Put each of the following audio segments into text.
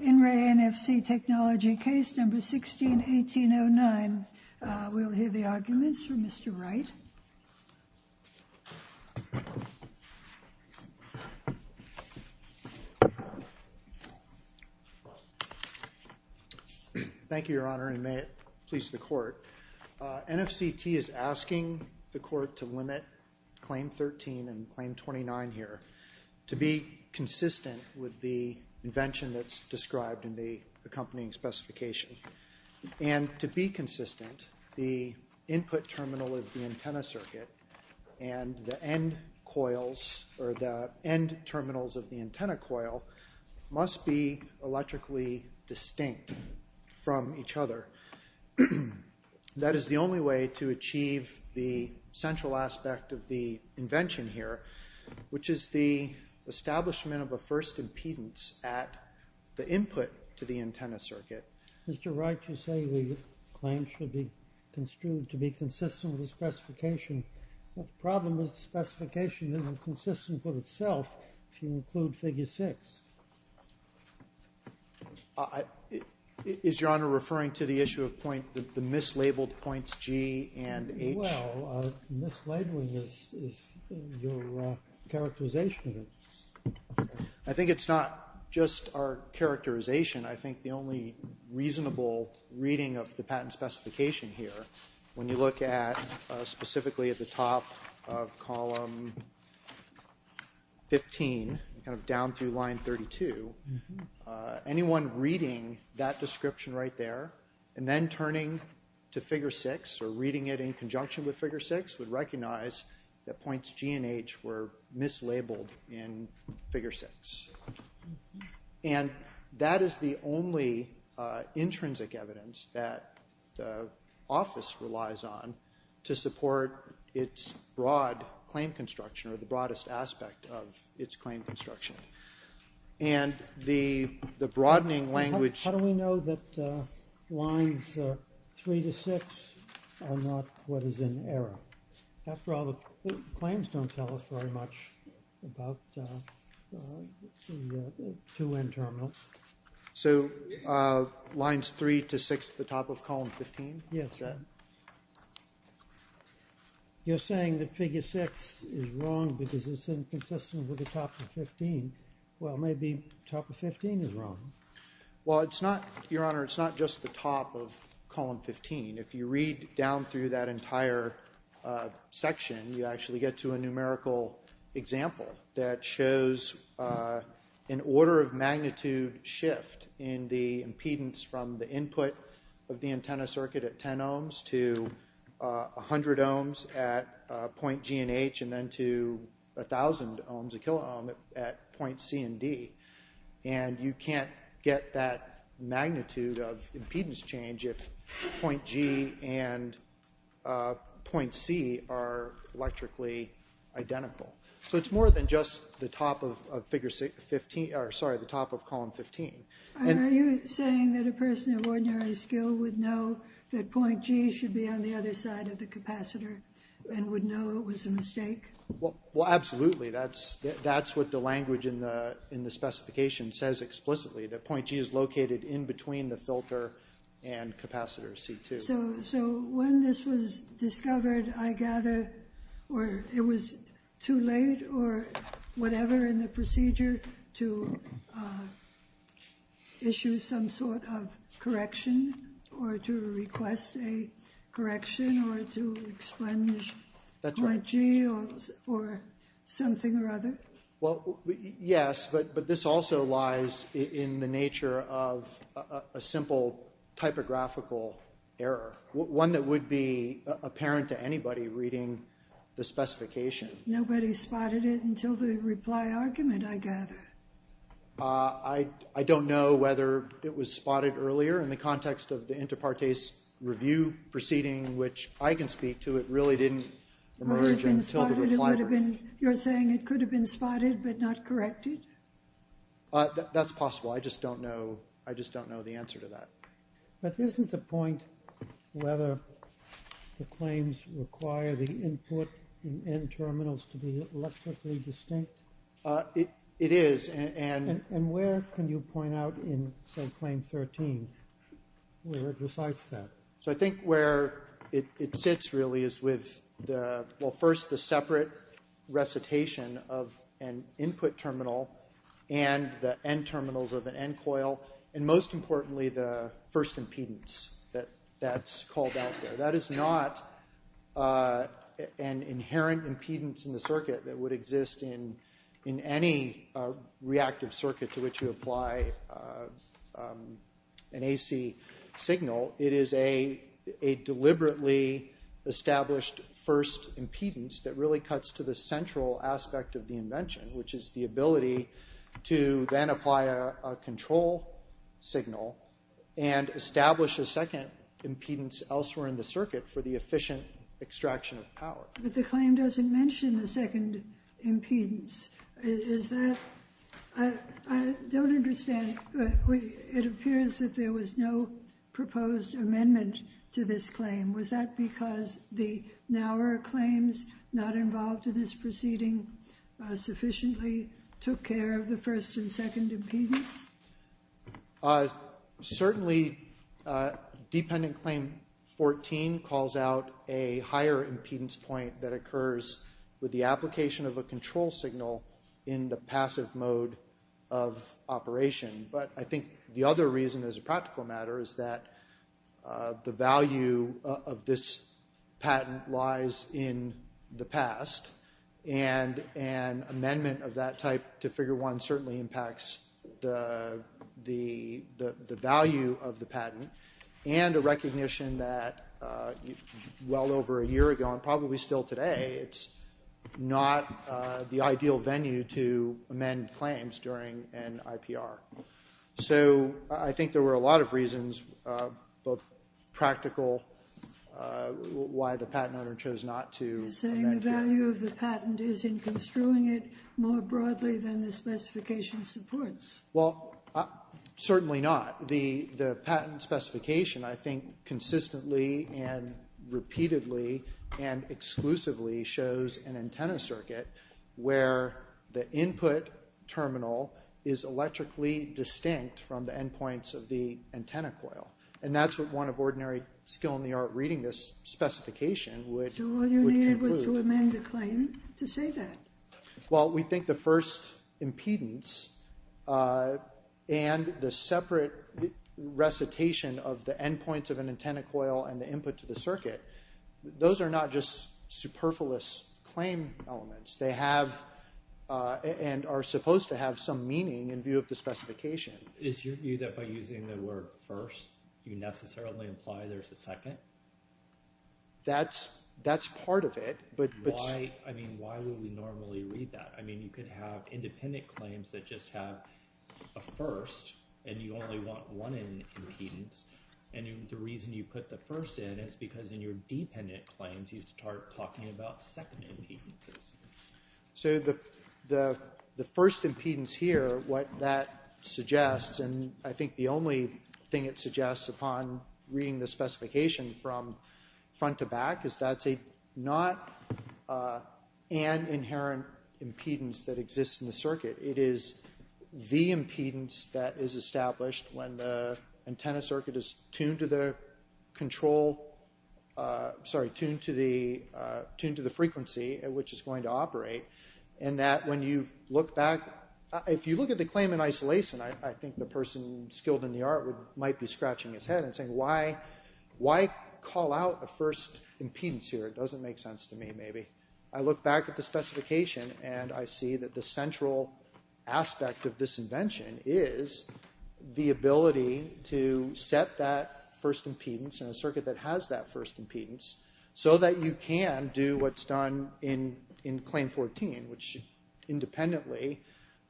In Re NFC Technology, case number 16-1809. We'll hear the arguments from Mr. Wright. Thank you, Your Honor, and may it please the Court. NFCT is asking the Court to limit Claim 13 and Claim 29 here to be consistent with the invention that's described in the accompanying specification. And to be consistent, the input terminal of the antenna circuit and the end coils, or the end terminals of the antenna coil, must be electrically distinct from each other. That is the only way to achieve the central aspect of the invention here, which is the establishment of a first impedance at the input to the antenna circuit. Mr. Wright, you say the claim should be construed to be consistent with the specification. The problem is the specification isn't consistent with itself if you include Figure 6. Is Your Honor referring to the issue of the mislabeled points G and H? Well, mislabeling is your characterization of it. I think it's not just our characterization. I think the only reasonable reading of the patent specification here, when you look specifically at the top of column 15, down through line 32, anyone reading that description right there and then turning to Figure 6 or reading it in conjunction with Figure 6 would recognize that points G and H were mislabeled in Figure 6. And that is the only intrinsic evidence that the office relies on to support its broad claim construction, or the broadest aspect of its claim construction. And the broadening language... How do we know that lines 3 to 6 are not what is in error? After all, the claims don't tell us very much about the 2N terminal. So lines 3 to 6 at the top of column 15? Yes. You're saying that Figure 6 is wrong because it's inconsistent with the top of 15. Well, maybe the top of 15 is wrong. Well, Your Honor, it's not just the top of column 15. If you read down through that entire section, you actually get to a numerical example that shows an order of magnitude shift in the impedance from the input of the antenna circuit at 10 ohms to 100 ohms at point G and H, and then to 1,000 ohms, a kiloohm, at point C and D. And you can't get that magnitude of impedance change if point G and point C are electrically identical. So it's more than just the top of column 15. Are you saying that a person of ordinary skill would know that point G should be on the other side of the capacitor and would know it was a mistake? Well, absolutely. That's what the language in the specification says explicitly, that point G is located in between the filter and capacitor C2. So when this was discovered, I gather it was too late or whatever in the procedure to issue some sort of correction or to request a correction or to explain point G or something or other? Well, yes, but this also lies in the nature of a simple typographical error, one that would be apparent to anybody reading the specification. Nobody spotted it until the reply argument, I gather. I don't know whether it was spotted earlier in the context of the inter partes review proceeding, which I can speak to. It really didn't emerge until the reply. You're saying it could have been spotted but not corrected? That's possible. I just don't know. I just don't know the answer to that. But isn't the point whether the claims require the input in N terminals to be electrically distinct? It is. And where can you point out in, say, claim 13 where it recites that? So I think where it sits really is with, well, first, the separate recitation of an input terminal and the N terminals of an N coil, and most importantly, the first impedance that's called out there. It's a deliberately established first impedance that really cuts to the central aspect of the invention, which is the ability to then apply a control signal and establish a second impedance elsewhere in the circuit for the efficient extraction of power. But the claim doesn't mention the second impedance. I don't understand. It appears that there was no proposed amendment to this claim. Was that because the Naur claims not involved in this proceeding sufficiently took care of the first and second impedance? Certainly, dependent claim 14 calls out a higher impedance point that occurs with the application of a control signal in the passive mode of operation. But I think the other reason as a practical matter is that the value of this patent lies in the past, and an amendment of that type to Figure 1 certainly impacts the value of the patent and a recognition that well over a year ago, and probably still today, it's not the ideal venue to amend claims during an IPR. So I think there were a lot of reasons, both practical, why the patent owner chose not to amend. You're saying the value of the patent is in construing it more broadly than the specification supports. Well, certainly not. The patent specification, I think, consistently and repeatedly and exclusively shows an antenna circuit where the input terminal is electrically distinct from the endpoints of the antenna coil. And that's what one of ordinary skill in the art reading this specification would conclude. So all you needed was to amend the claim to say that? Well, we think the first impedance and the separate recitation of the endpoints of an antenna coil and the input to the circuit, those are not just superfluous claim elements. They have and are supposed to have some meaning in view of the specification. Is your view that by using the word first, you necessarily imply there's a second? That's part of it. I mean, why would we normally read that? I mean, you could have independent claims that just have a first, and you only want one impedance. And the reason you put the first in is because in your dependent claims, you start talking about second impedances. So the first impedance here, what that suggests, and I think the only thing it suggests upon reading the specification from front to back, is that's not an inherent impedance that exists in the circuit. It is the impedance that is established when the antenna circuit is tuned to the control, sorry, tuned to the frequency at which it's going to operate. And that when you look back, if you look at the claim in isolation, I think the person skilled in the art might be scratching his head and saying, why call out a first impedance here? It doesn't make sense to me, maybe. I look back at the specification, and I see that the central aspect of this invention is the ability to set that first impedance in a circuit that has that first impedance, so that you can do what's done in claim 14, which independently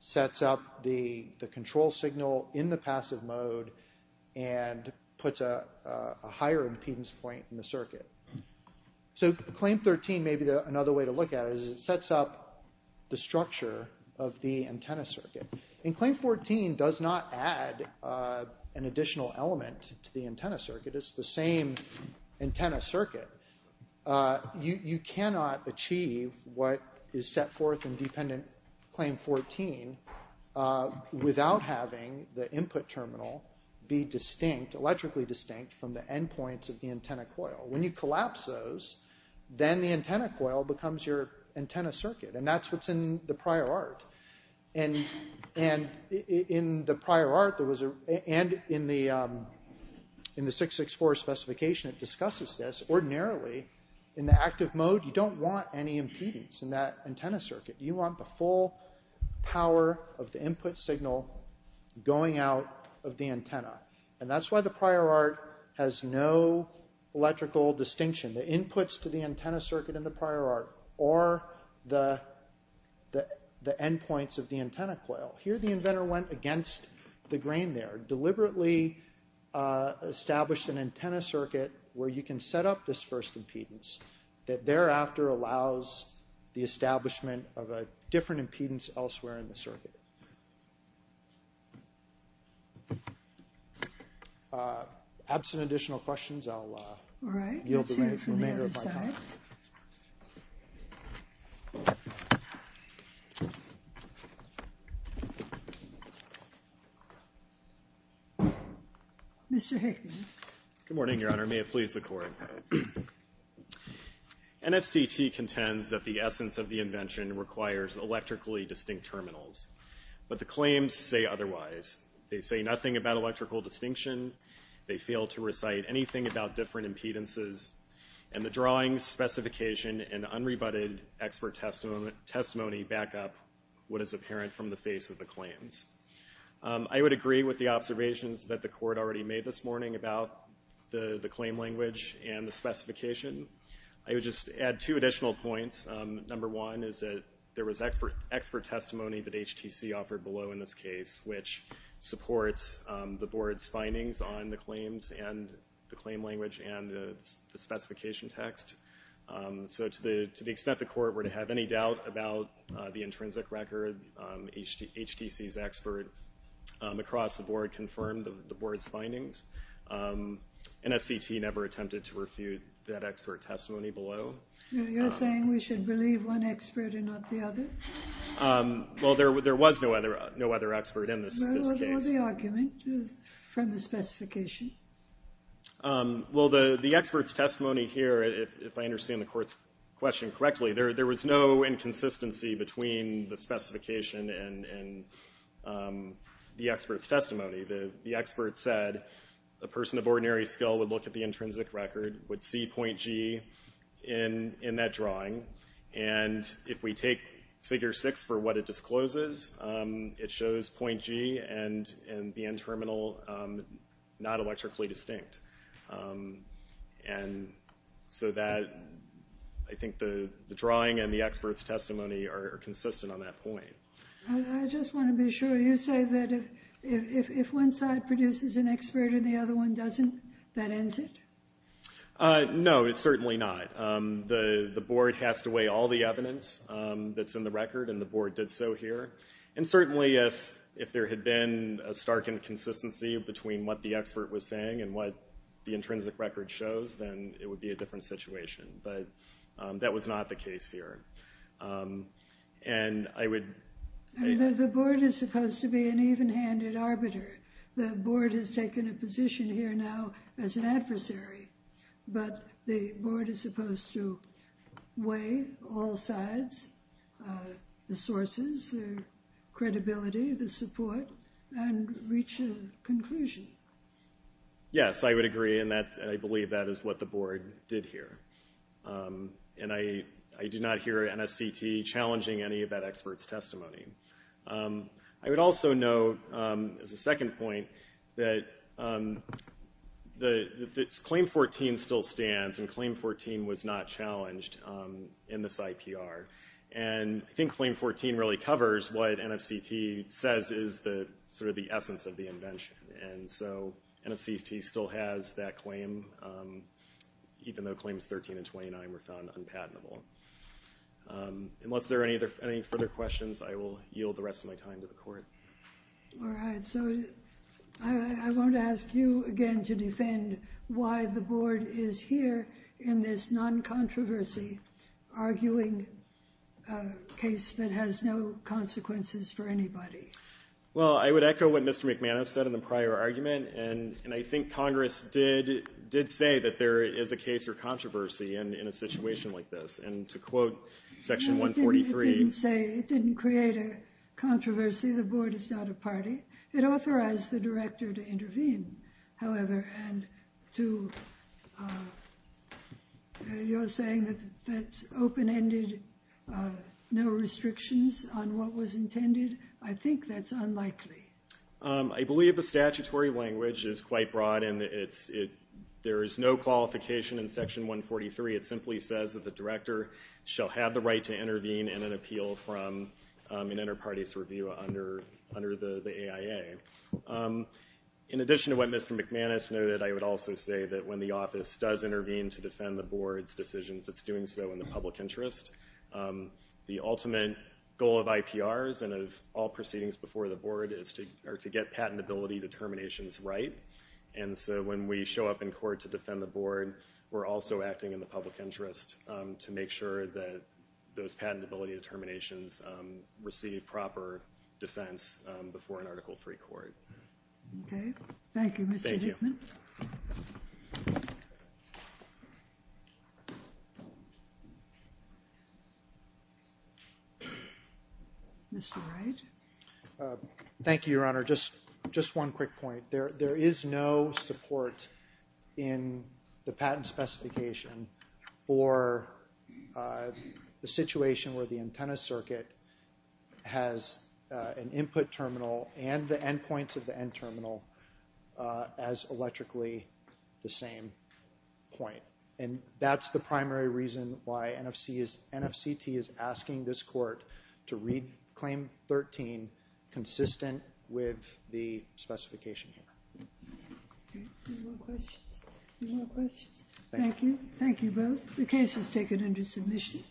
sets up the control signal in the passive mode and puts a higher impedance point in the circuit. So claim 13, maybe another way to look at it, is it sets up the structure of the antenna circuit. And claim 14 does not add an additional element to the antenna circuit. It's the same antenna circuit. You cannot achieve what is set forth in dependent claim 14 without having the input terminal be distinct, electrically distinct, from the endpoints of the antenna coil. When you collapse those, then the antenna coil becomes your antenna circuit, and that's what's in the prior art. And in the prior art, and in the 664 specification, it discusses this. Ordinarily, in the active mode, you don't want any impedance in that antenna circuit. You want the full power of the input signal going out of the antenna. And that's why the prior art has no electrical distinction. The inputs to the antenna circuit in the prior art are the endpoints of the antenna coil. Here, the inventor went against the grain there, deliberately established an antenna circuit where you can set up this first impedance, that thereafter allows the establishment of a different impedance elsewhere in the circuit. Absent additional questions, I'll yield the remainder of my time. All right. Let's hear from the other side. Mr. Hickman. Good morning, Your Honor. May it please the Court. NFCT contends that the essence of the invention requires electrically distinct terminals. But the claims say otherwise. They say nothing about electrical distinction. They fail to recite anything about different impedances. And the drawings, specification, and unrebutted expert testimony back up what is apparent from the face of the claims. I would agree with the observations that the Court already made this morning about the claim language and the specification. I would just add two additional points. Number one is that there was expert testimony that HTC offered below in this case, which supports the Board's findings on the claims and the claim language and the specification text. So to the extent the Court were to have any doubt about the intrinsic record, HTC's expert across the Board confirmed the Board's findings. NFCT never attempted to refute that expert testimony below. You're saying we should believe one expert and not the other? Well, there was no other expert in this case. What was the argument from the specification? Well, the expert's testimony here, if I understand the Court's question correctly, there was no inconsistency between the specification and the expert's testimony. The expert said a person of ordinary skill would look at the intrinsic record, would see point G in that drawing. And if we take figure six for what it discloses, it shows point G and the end terminal not electrically distinct. And so that, I think the drawing and the expert's testimony are consistent on that point. I just want to be sure. You say that if one side produces an expert and the other one doesn't, that ends it? No, it's certainly not. The Board has to weigh all the evidence that's in the record, and the Board did so here. And certainly if there had been a stark inconsistency between what the expert was saying and what the intrinsic record shows, then it would be a different situation. But that was not the case here. And I would... The Board is supposed to be an even-handed arbiter. The Board has taken a position here now as an adversary. But the Board is supposed to weigh all sides, the sources, the credibility, the support, and reach a conclusion. Yes, I would agree, and I believe that is what the Board did here. And I did not hear NFCT challenging any of that expert's testimony. I would also note, as a second point, that Claim 14 still stands, and Claim 14 was not challenged in this IPR. And I think Claim 14 really covers what NFCT says is sort of the essence of the invention. And so NFCT still has that claim, even though Claims 13 and 29 were found unpatentable. Unless there are any further questions, I will yield the rest of my time to the Court. All right. So I won't ask you again to defend why the Board is here in this non-controversy, arguing a case that has no consequences for anybody. Well, I would echo what Mr. McManus said in the prior argument. And I think Congress did say that there is a case for controversy in a situation like this. And to quote Section 143— It didn't say—it didn't create a controversy. The Board is not a party. It authorized the Director to intervene, however. And to your saying that that's open-ended, no restrictions on what was intended, I think that's unlikely. I believe the statutory language is quite broad, and there is no qualification in Section 143. It simply says that the Director shall have the right to intervene in an appeal from an inter-parties review under the AIA. In addition to what Mr. McManus noted, I would also say that when the Office does intervene to defend the Board's decisions, it's doing so in the public interest. The ultimate goal of IPRs and of all proceedings before the Board is to get patentability determinations right. And so when we show up in court to defend the Board, we're also acting in the public interest to make sure that those patentability determinations receive proper defense before an Article III court. Okay. Thank you, Mr. Hickman. Thank you. Mr. Wright. Thank you, Your Honor. Just one quick point. There is no support in the patent specification for the situation where the antenna circuit has an input terminal and the endpoints of the end terminal as electrically the same point. And that's the primary reason why NFCT is asking this court to read Claim 13 consistent with the specification here. Any more questions? Thank you. Thank you both. The case is taken under submission.